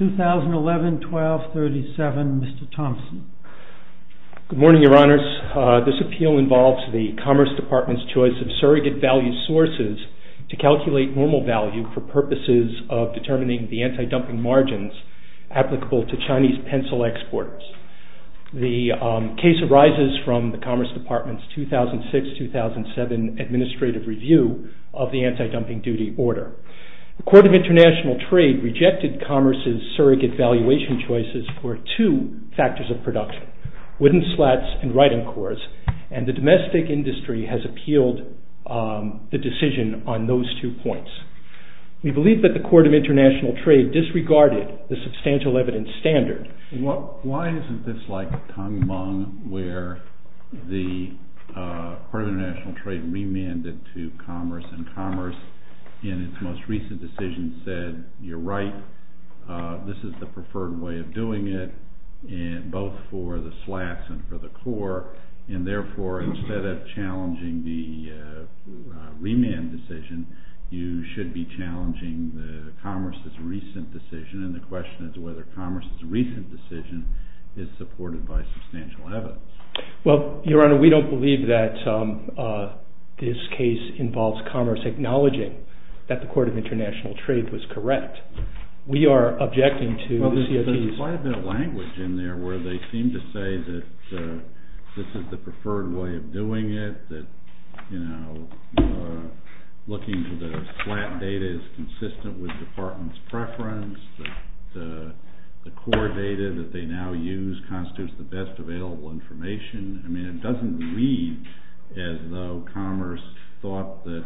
2011-12-37 Mr. Thompson Good morning, your honors. This appeal involves the Commerce Department's choice of surrogate value sources to calculate normal value for purposes of determining the anti-dumping margins applicable to Chinese pencil exports. The case arises from the Commerce Department's 2006-2007 administrative review of the anti-dumping duty order. The Court of International Trade rejected Commerce's surrogate valuation choices for two factors of production, wooden slats and writing cores, and the domestic industry has appealed the decision on those two points. We believe that the Court of International Trade disregarded the substantial evidence standard. Why isn't this like Tang Meng, where the Court of International Trade remanded to Commerce and Commerce, in its most recent decision, said, you're right, this is the preferred way of doing it, both for the slats and for the core, and therefore, instead of challenging the remand decision, you should be challenging Commerce's recent decision. And the question is whether Commerce's recent decision is supported by substantial evidence. Well, your honor, we don't believe that this case involves Commerce acknowledging that the Court of International Trade was correct. Well, there's quite a bit of language in there where they seem to say that this is the preferred way of doing it, that looking to the slat data is consistent with the Department's preference, that the core data that they now use constitutes the best available information. I mean, it doesn't read as though Commerce thought that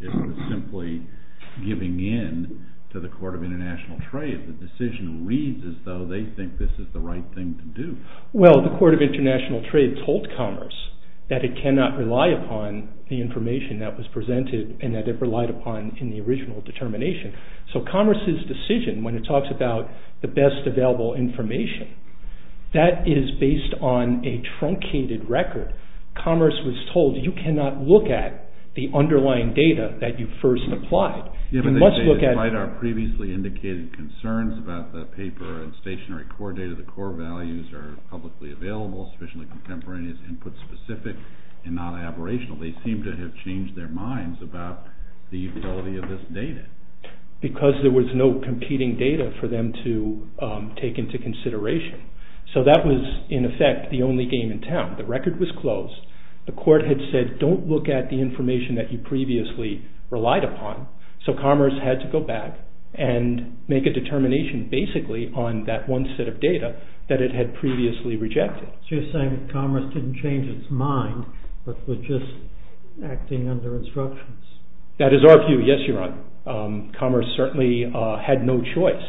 it was simply giving in to the Court of International Trade. The decision reads as though they think this is the right thing to do. Well, the Court of International Trade told Commerce that it cannot rely upon the information that was presented and that it relied upon in the original determination. So Commerce's decision, when it talks about the best available information, that is based on a truncated record. Commerce was told you cannot look at the underlying data that you first applied. You must look at... Despite our previously indicated concerns about the paper and stationary core data, the core values are publicly available, sufficiently contemporaneous, input-specific, and not aberrational. They seem to have changed their minds about the utility of this data. Because there was no competing data for them to take into consideration. So that was, in effect, the only game in town. The record was closed. The Court had said, don't look at the information that you previously relied upon. So Commerce had to go back and make a determination, basically, on that one set of data that it had previously rejected. So you're saying that Commerce didn't change its mind, but was just acting under instructions. That is our view. Yes, Your Honor. Commerce certainly had no choice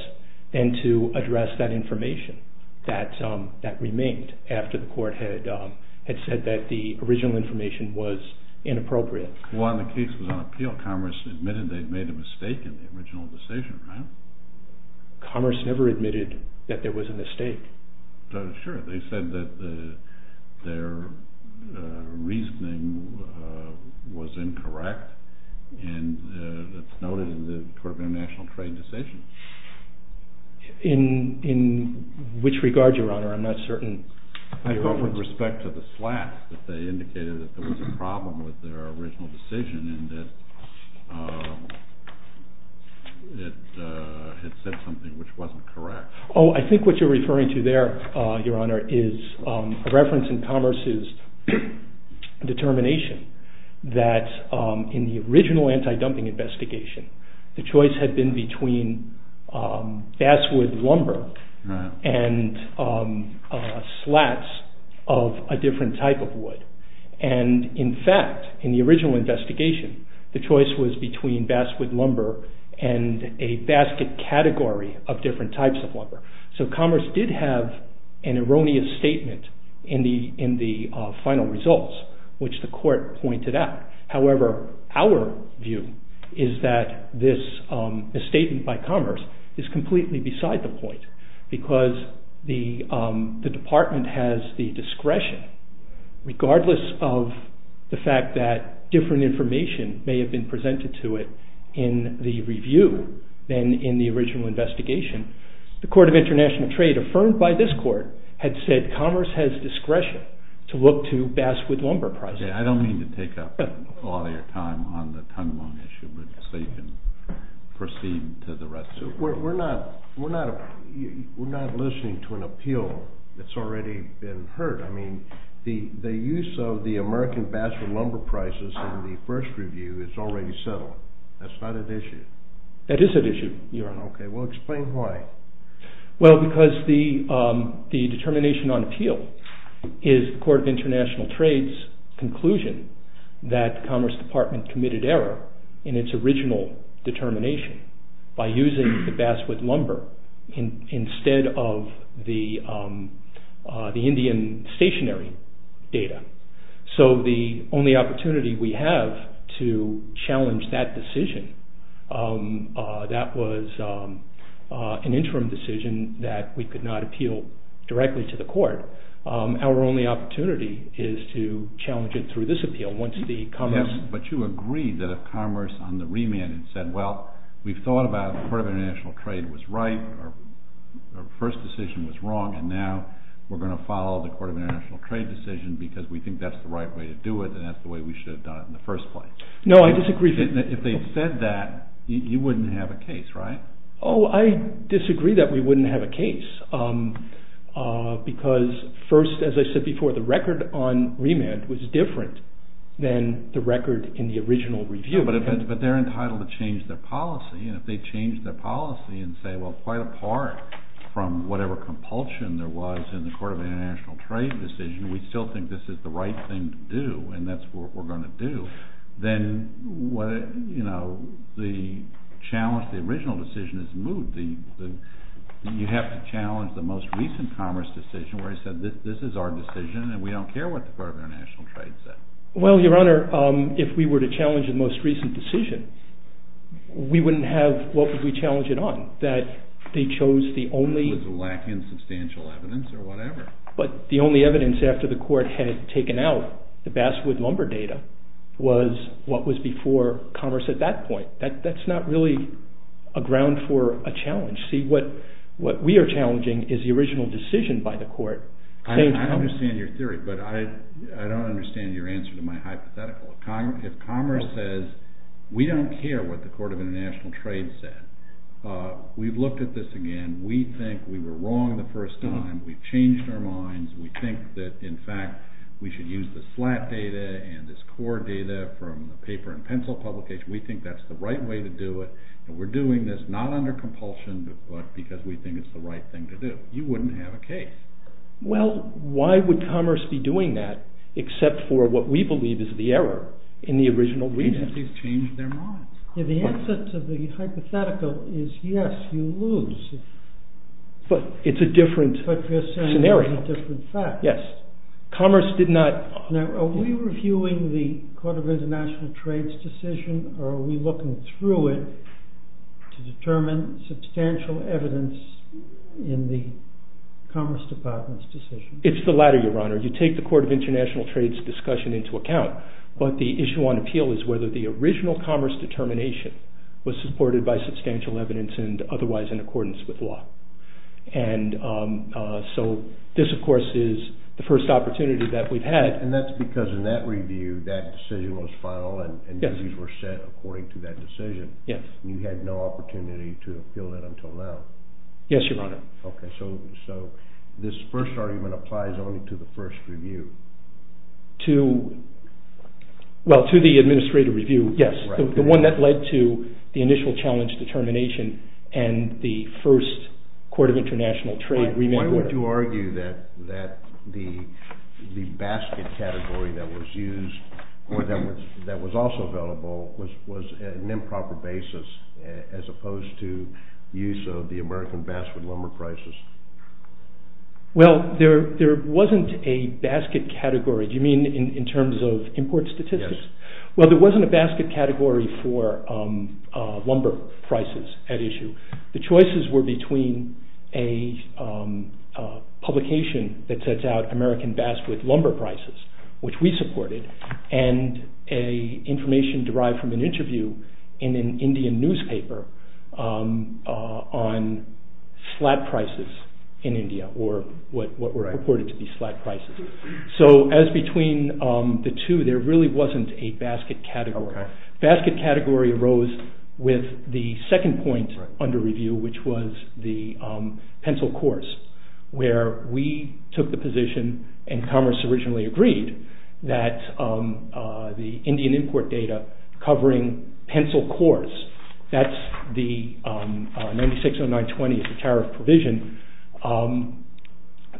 than to address that information that remained after the Court had said that the original information was inappropriate. Well, and the case was on appeal. Commerce admitted they'd made a mistake in the original decision, right? Commerce never admitted that there was a mistake. Sure. They said that their reasoning was incorrect, and that's noted in the Court of International Trade decision. In which regard, Your Honor? I'm not certain. I thought with respect to the slack that they indicated that there was a problem with their original decision, and that it had said something which wasn't correct. Oh, I think what you're referring to there, Your Honor, is a reference in Commerce's determination that in the original anti-dumping investigation, the choice had been between basswood lumber and slats of a different type of wood. In fact, in the original investigation, the choice was between basswood lumber and a basket category of different types of lumber. Commerce did have an erroneous statement in the final results, which the Court pointed out. However, our view is that this misstatement by Commerce is completely beside the point, because the Department has the discretion, regardless of the fact that different information may have been presented to it in the review than in the original investigation. The Court of International Trade, affirmed by this Court, had said Commerce has discretion to look to basswood lumber pricing. Okay, I don't mean to take up all your time on the tongue bone issue, but so you can proceed to the rest of it. We're not listening to an appeal that's already been heard. I mean, the use of the American basswood lumber prices in the first review is already settled. That's not at issue. That is at issue, Your Honor. Okay, well explain why. Well, because the determination on appeal is the Court of International Trade's conclusion that Commerce Department committed error in its original determination by using the basswood lumber instead of the Indian stationary data. So the only opportunity we have to challenge that decision, that was an interim decision that we could not appeal directly to the Court. Our only opportunity is to challenge it through this appeal. But you agreed that if Commerce on the remand had said, well, we've thought about the Court of International Trade was right, our first decision was wrong, and now we're going to follow the Court of International Trade decision because we think that's the right way to do it, and that's the way we should have done it in the first place. No, I disagree. If they'd said that, you wouldn't have a case, right? Oh, I disagree that we wouldn't have a case. Because first, as I said before, the record on remand was different than the record in the original review. But they're entitled to change their policy, and if they change their policy and say, well, quite apart from whatever compulsion there was in the Court of International Trade decision, we still think this is the right thing to do, and that's what we're going to do, then the challenge, the original decision is moot. You have to challenge the most recent Commerce decision where it said, this is our decision, and we don't care what the Court of International Trade said. Well, Your Honor, if we were to challenge the most recent decision, we wouldn't have, what would we challenge it on? That they chose the only... It was lacking substantial evidence or whatever. But the only evidence after the Court had taken out the Basswood lumber data was what was before Commerce at that point. That's not really a ground for a challenge. See, what we are challenging is the original decision by the Court. I understand your theory, but I don't understand your answer to my hypothetical. If Commerce says, we don't care what the Court of International Trade said. We've looked at this again. We think we were wrong the first time. We've changed our minds. We think that, in fact, we should use the slat data and this core data from the paper and pencil publication. We think that's the right way to do it, and we're doing this not under compulsion, but because we think it's the right thing to do. You wouldn't have a case. Well, why would Commerce be doing that except for what we believe is the error in the original reason? They've changed their minds. The answer to the hypothetical is yes, you lose. But it's a different scenario. But you're saying it's a different fact. Yes. Commerce did not... Now, are we reviewing the Court of International Trade's decision, or are we looking through it to determine substantial evidence in the Commerce Department's decision? It's the latter, Your Honor. You take the Court of International Trade's discussion into account, but the issue on appeal is whether the original Commerce determination was supported by substantial evidence and otherwise in accordance with law. And so this, of course, is the first opportunity that we've had. And that's because in that review, that decision was final and reviews were set according to that decision. Yes. You had no opportunity to appeal that until now. Yes, Your Honor. Okay, so this first argument applies only to the first review. Well, to the administrative review, yes. The one that led to the initial challenge determination and the first Court of International Trade remand order. Why would you argue that the basket category that was used, or that was also available, was an improper basis as opposed to use of the American Basswood Lumber Crisis? Well, there wasn't a basket category. Do you mean in terms of import statistics? Yes. Well, there wasn't a basket category for lumber prices at issue. The choices were between a publication that sets out American Basswood Lumber Crisis, which we supported, and a information derived from an interview in an Indian newspaper on slat prices in India, or what were reported to be slat prices. So as between the two, there really wasn't a basket category. The basket category arose with the second point under review, which was the pencil cores, where we took the position, and Commerce originally agreed, that the Indian import data covering pencil cores, that's the 960920 as a tariff provision,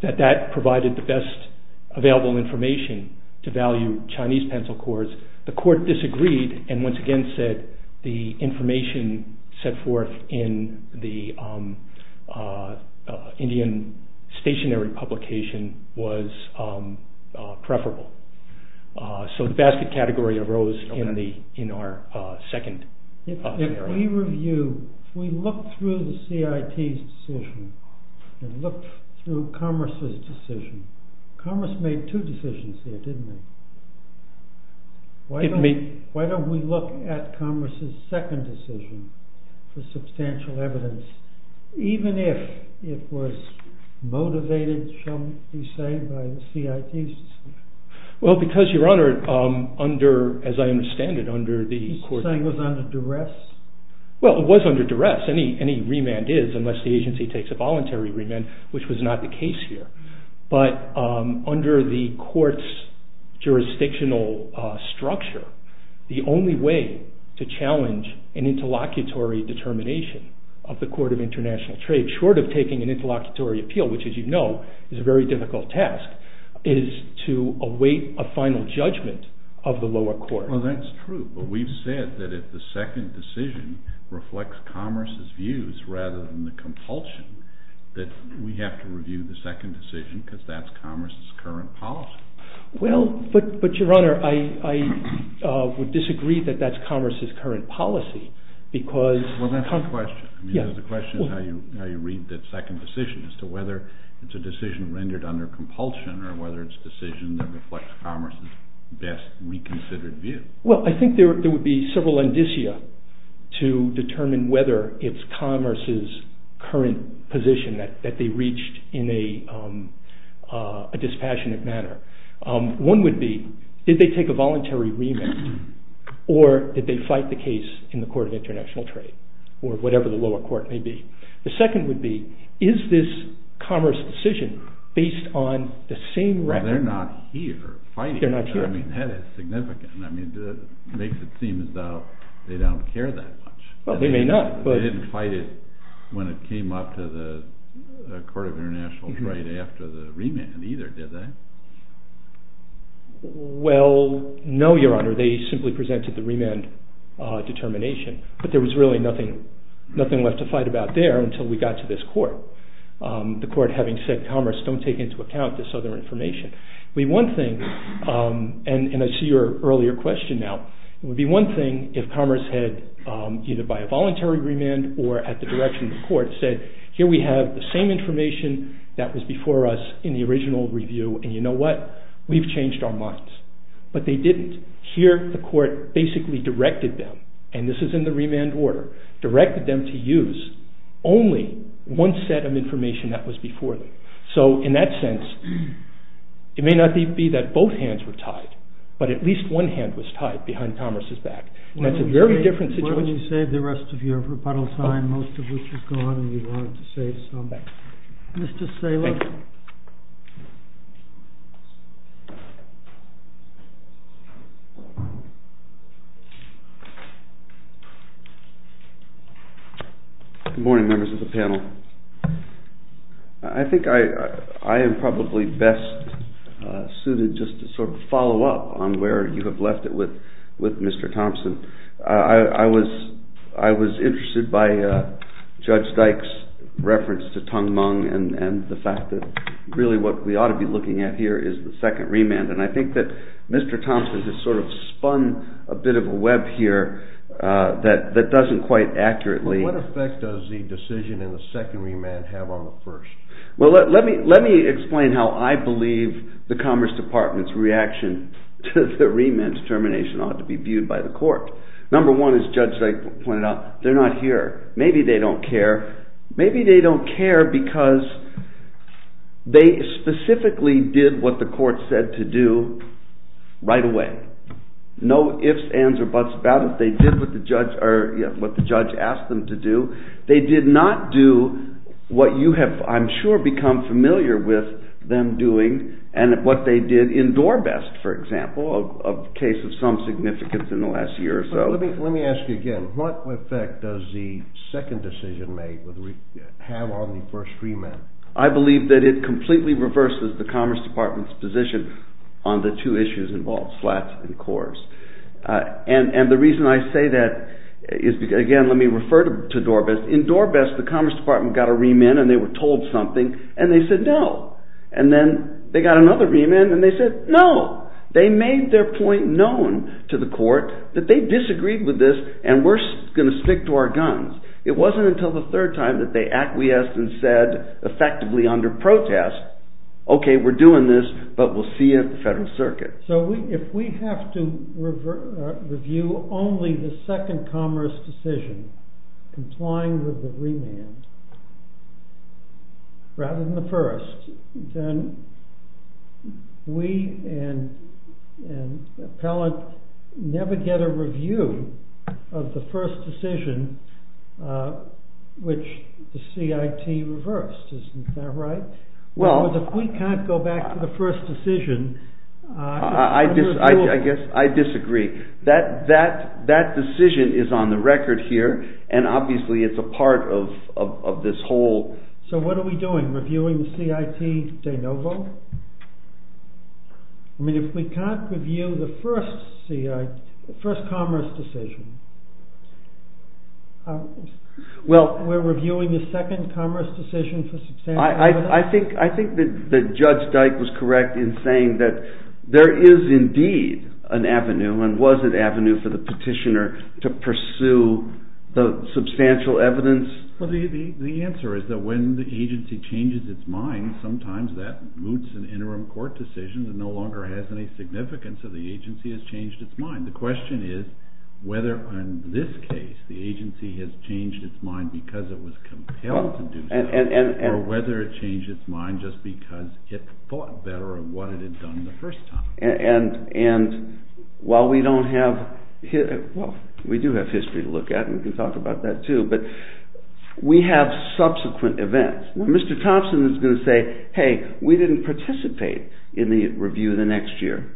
that that provided the best available information to value Chinese pencil cores. The court disagreed, and once again said the information set forth in the Indian stationary publication was preferable. So the basket category arose in our second area. If we look through the CIT's decision, and look through Commerce's decision, Commerce made two decisions there, didn't they? Why don't we look at Commerce's second decision for substantial evidence, even if it was motivated, shall we say, by the CIT's decision? Well, because, Your Honor, under, as I understand it, under the court's... You're saying it was under duress? Well, it was under duress. Any remand is, unless the agency takes a voluntary remand, which was not the case here. But under the court's jurisdictional structure, the only way to challenge an interlocutory determination of the Court of International Trade, short of taking an interlocutory appeal, which, as you know, is a very difficult task, is to await a final judgment of the lower court. Well, that's true, but we've said that if the second decision reflects Commerce's views rather than the compulsion, that we have to review the second decision, because that's Commerce's current policy. Well, but, Your Honor, I would disagree that that's Commerce's current policy, because... Well, I think there would be several indicia to determine whether it's Commerce's current position that they reached in a dispassionate manner. One would be, did they take a voluntary remand, or did they fight the case in the Court of International Trade, or whatever the lower court may be. The second would be, is this Commerce decision based on the same record... Well, they're not here fighting it. I mean, that is significant. I mean, it makes it seem as though they don't care that much. Well, they may not, but... They didn't fight it when it came up to the Court of International Trade after the remand, either, did they? Well, no, Your Honor, they simply presented the remand determination, but there was really nothing left to fight about there until we got to this court, the court having said, Commerce, don't take into account this other information. It would be one thing, and I see your earlier question now, it would be one thing if Commerce had, either by a voluntary remand or at the direction of the court, said, here we have the same information that was before us in the original review, and you know what? We've changed our minds. But they didn't. Here, the court basically directed them, and this is in the remand order, directed them to use only one set of information that was before them. So, in that sense, it may not be that both hands were tied, but at least one hand was tied behind Commerce's back, and that's a very different situation. Why don't you save the rest of your rebuttal time, most of which is gone, and you wanted to save some. Mr. Saylor. Thank you. Good morning, members of the panel. I think I am probably best suited just to sort of follow up on where you have left it with Mr. Thompson. I was interested by Judge Dyke's reference to Tung Mung and the fact that really what we ought to be looking at here is the second remand, and I think that Mr. Thompson has sort of spun a bit of a web here that doesn't quite accurately. What effect does the decision in the second remand have on the first? Well, let me explain how I believe the Commerce Department's reaction to the remand's termination ought to be viewed by the court. Number one, as Judge Dyke pointed out, they're not here. Maybe they don't care. Maybe they don't care because they specifically did what the court said to do right away. No ifs, ands, or buts about it. They did what the judge asked them to do. They did not do what you have, I'm sure, become familiar with them doing and what they did in Dorbest, for example, a case of some significance in the last year or so. Let me ask you again. What effect does the second decision make have on the first remand? I believe that it completely reverses the Commerce Department's position on the two issues involved, slats and cores. And the reason I say that is because, again, let me refer to Dorbest. In Dorbest, the Commerce Department got a remand and they were told something and they said no. And then they got another remand and they said no. They made their point known to the court that they disagreed with this and we're going to stick to our guns. It wasn't until the third time that they acquiesced and said effectively under protest, okay, we're doing this, but we'll see you at the Federal Circuit. So if we have to review only the second commerce decision, complying with the remand, rather than the first, then we and appellate never get a review of the first decision, which the CIT reversed. Isn't that right? Well, if we can't go back to the first decision... I disagree. That decision is on the record here and obviously it's a part of this whole... So what are we doing? Reviewing the CIT de novo? I mean, if we can't review the first commerce decision, we're reviewing the second commerce decision? I think that Judge Dyke was correct in saying that there is indeed an avenue and was an avenue for the petitioner to pursue the substantial evidence. The answer is that when the agency changes its mind, sometimes that moots an interim court decision that no longer has any significance and the agency has changed its mind. The question is whether in this case the agency has changed its mind because it was compelled to do so or whether it changed its mind just because it thought better of what it had done the first time. And while we don't have... well, we do have history to look at and we can talk about that too, but we have subsequent events. Mr. Thompson is going to say, hey, we didn't participate in the review the next year.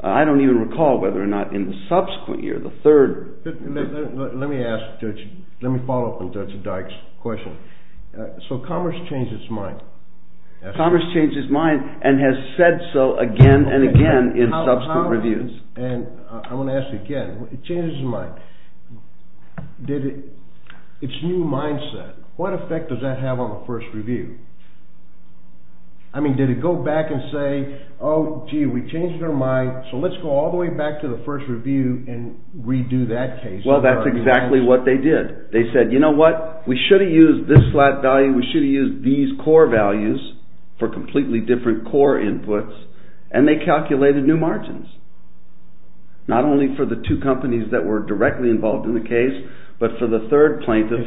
I don't even recall whether or not in the subsequent year, the third... Let me follow up on Judge Dyke's question. So commerce changed its mind. Commerce changed its mind and has said so again and again in subsequent reviews. And I want to ask again, it changed its mind. It's new mindset. What effect does that have on the first review? I mean, did it go back and say, oh, gee, we changed our mind, so let's go all the way back to the first review and redo that case? Well, that's exactly what they did. They said, you know what, we should have used this flat value, we should have used these core values for completely different core inputs, and they calculated new margins. Not only for the two companies that were directly involved in the case, but for the third plaintiff...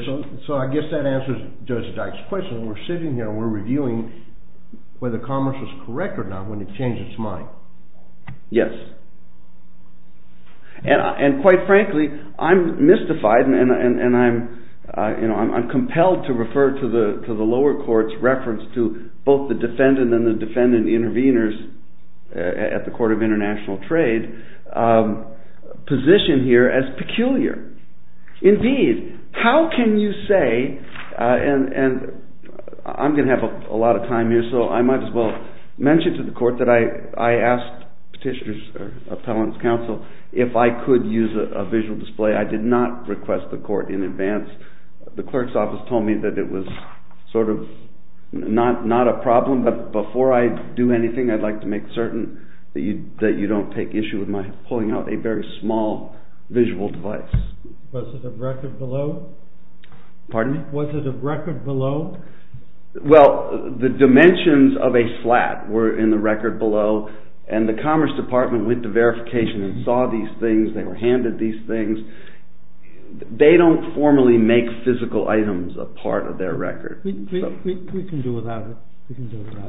So I guess that answers Judge Dyke's question. We're sitting here and we're reviewing whether commerce was correct or not when it changed its mind. Yes. And quite frankly, I'm mystified and I'm compelled to refer to the lower court's reference to both the defendant and the defendant intervenors at the Court of International Trade position here as peculiar. Indeed, how can you say... And I'm going to have a lot of time here, so I might as well mention to the court that I asked Petitioner's Appellant's Counsel if I could use a visual display. I did not request the court in advance. The clerk's office told me that it was sort of not a problem, but before I do anything, I'd like to make certain that you don't take issue with my pulling out a very small visual device. Was it a record below? Pardon me? Was it a record below? Well, the dimensions of a flat were in the record below, and the Commerce Department went to verification and saw these things. They were handed these things. They don't formally make physical items a part of their record. We can do without it.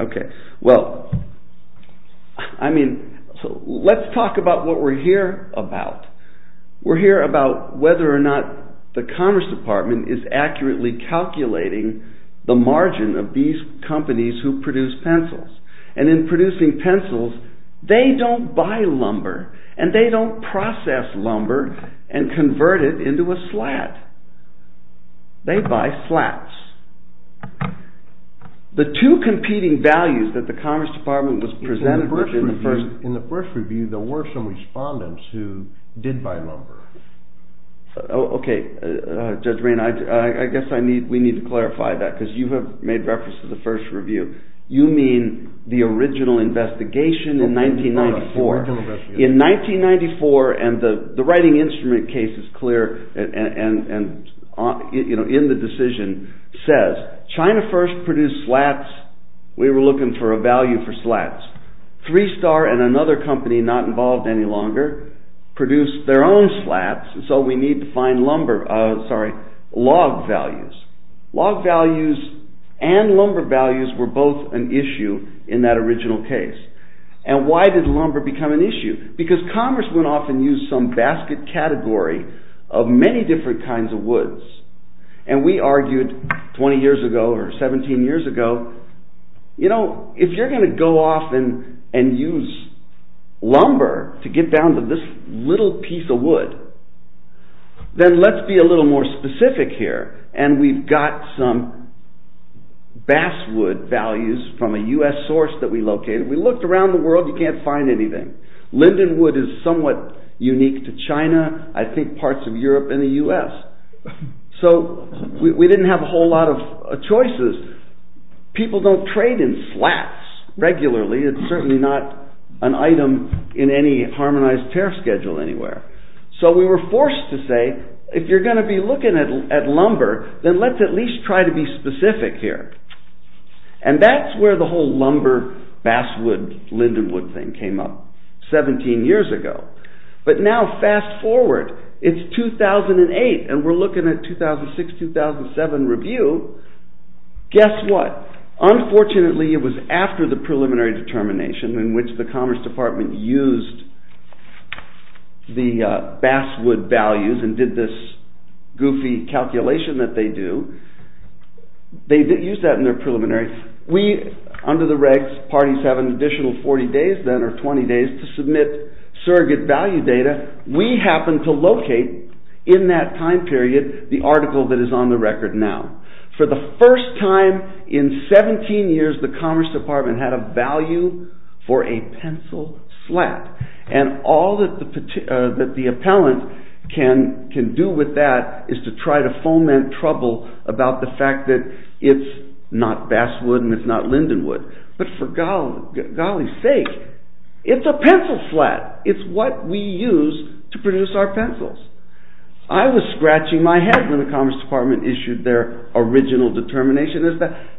Okay. Well, I mean, let's talk about what we're here about. We're here about whether or not the Commerce Department is accurately calculating the margin of these companies who produce pencils. And in producing pencils, they don't buy lumber, and they don't process lumber and convert it into a slat. They buy slats. The two competing values that the Commerce Department was presented with in the first review. In the first review, there were some respondents who did buy lumber. Okay. Judge Rain, I guess we need to clarify that because you have made reference to the first review. You mean the original investigation in 1994. In 1994, and the writing instrument case is clear in the decision, says China first produced slats. We were looking for a value for slats. Three Star and another company not involved any longer produced their own slats, so we need to find log values. Log values and lumber values were both an issue in that original case. And why did lumber become an issue? Because Commerce went off and used some basket category of many different kinds of woods. And we argued 20 years ago or 17 years ago, you know, if you're going to go off and use lumber to get down to this little piece of wood, then let's be a little more specific here. And we've got some basswood values from a US source that we located. We looked around the world. You can't find anything. Lindenwood is somewhat unique to China, I think parts of Europe and the US. So we didn't have a whole lot of choices. People don't trade in slats regularly. It's certainly not an item in any harmonized tariff schedule anywhere. So we were forced to say, if you're going to be looking at lumber, then let's at least try to be specific here. And that's where the whole lumber, basswood, Lindenwood thing came up 17 years ago. But now fast forward, it's 2008 and we're looking at 2006, 2007 review. Guess what? Unfortunately, it was after the preliminary determination in which the Commerce Department used the basswood values and did this goofy calculation that they do. They did use that in their preliminary. We, under the regs, parties have an additional 40 days then or 20 days to submit surrogate value data. We happened to locate in that time period the article that is on the record now. For the first time in 17 years, the Commerce Department had a value for a pencil slat. And all that the appellant can do with that is to try to foment trouble about the fact that it's not basswood and it's not Lindenwood. But for golly's sake, it's a pencil slat. It's what we use to produce our pencils. I was scratching my head when the Commerce Department issued their original determination.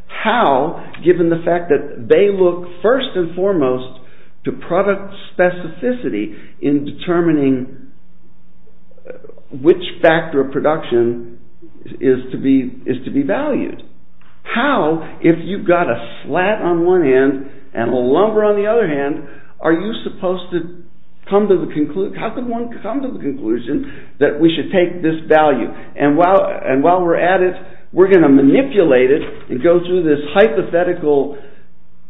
How, given the fact that they look first and foremost to product specificity in determining which factor of production is to be valued. How, if you've got a slat on one hand and a lumber on the other hand, are you supposed to come to the conclusion that we should take this value? And while we're at it, we're going to manipulate it and go through this hypothetical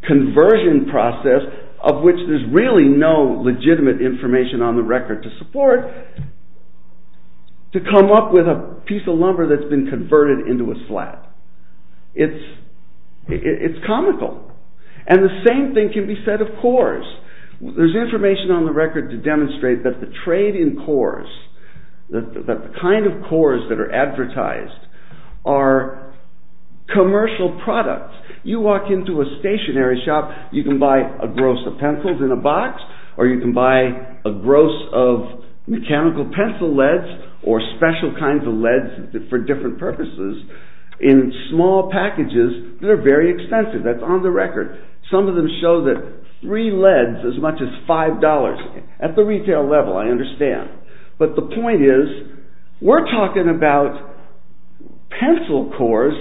conversion process of which there's really no legitimate information on the record to support to come up with a piece of lumber that's been converted into a slat. It's comical. And the same thing can be said of cores. There's information on the record to demonstrate that the trade in cores, the kind of cores that are advertised, are commercial products. You walk into a stationary shop, you can buy a gross of pencils in a box or you can buy a gross of mechanical pencil leads or special kinds of leads for different purposes in small packages that are very expensive. That's on the record. Some of them show that three leads is as much as five dollars. At the retail level, I understand. But the point is, we're talking about pencil cores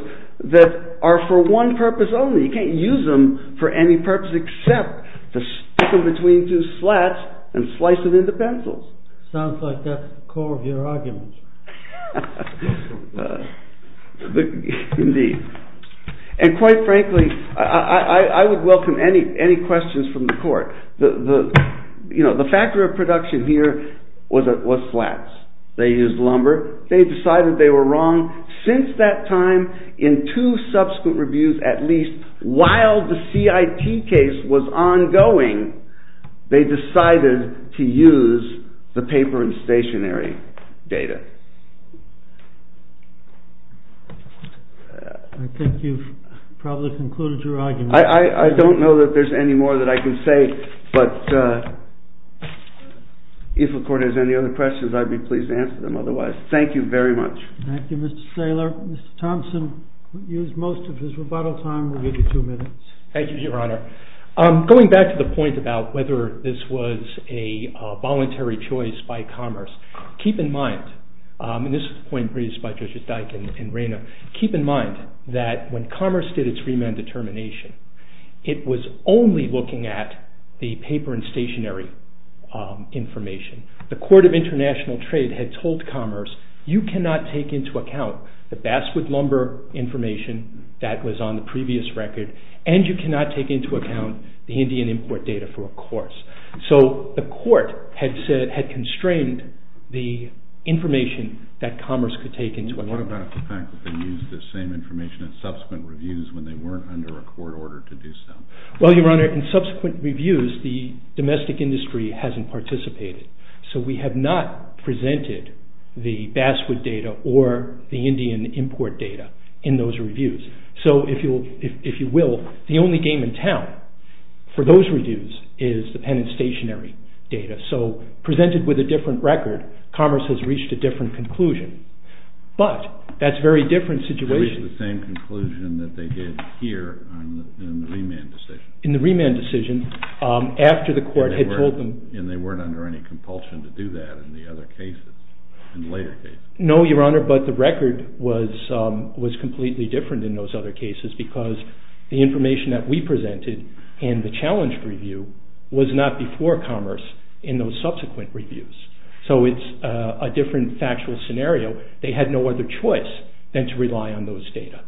that are for one purpose only. You can't use them for any purpose except to stick them between two slats and slice them into pencils. Sounds like that's the core of your argument. Indeed. And quite frankly, I would welcome any questions from the court. The factor of production here was slats. They used lumber. They decided they were wrong. I think you've probably concluded your argument. I don't know that there's any more that I can say, but if the court has any other questions, I'd be pleased to answer them otherwise. Thank you very much. Thank you, Mr. Saylor. Mr. Thompson used most of his rebuttal time. We'll give you two minutes. Thank you, Your Honor. Going back to the point about whether this was a voluntary choice by Commerce, keep in mind that when Commerce did its remand determination, it was only looking at the paper and stationary information. The Court of International Trade had told Commerce, you cannot take into account the basswood lumber information that was on the previous record, and you cannot take into account the Indian import data for a course. So the court had constrained the information that Commerce could take into account. What about the fact that they used the same information in subsequent reviews when they weren't under a court order to do so? Well, Your Honor, in subsequent reviews, the domestic industry hasn't participated. So we have not presented the basswood data or the Indian import data in those reviews. So if you will, the only game in town for those reviews is the pen and stationary data. So presented with a different record, Commerce has reached a different conclusion. But that's a very different situation. They reached the same conclusion that they did here in the remand decision. In the remand decision after the court had told them. And they weren't under any compulsion to do that in the other cases, in later cases. No, Your Honor, but the record was completely different in those other cases, because the information that we presented in the challenge review was not before Commerce in those subsequent reviews. So it's a different factual scenario. They had no other choice than to rely on those data.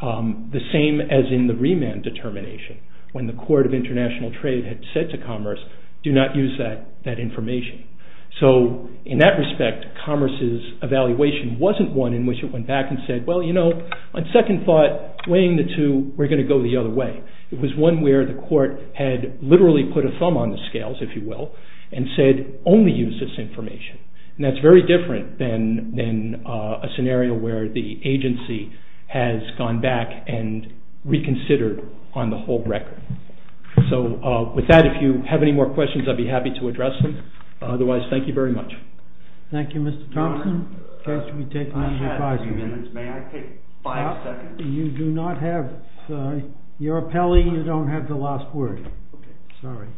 The same as in the remand determination, when the Court of International Trade had said to Commerce, do not use that information. So in that respect, Commerce's evaluation wasn't one in which it went back and said, well, you know, on second thought, weighing the two, we're going to go the other way. It was one where the court had literally put a thumb on the scales, if you will, and said, only use this information. And that's very different than a scenario where the agency has gone back and reconsidered on the whole record. So with that, if you have any more questions, I'd be happy to address them. Otherwise, thank you very much. Thank you, Mr. Thompson. May I take five seconds? You do not have your appellee. You don't have the last word. Sorry.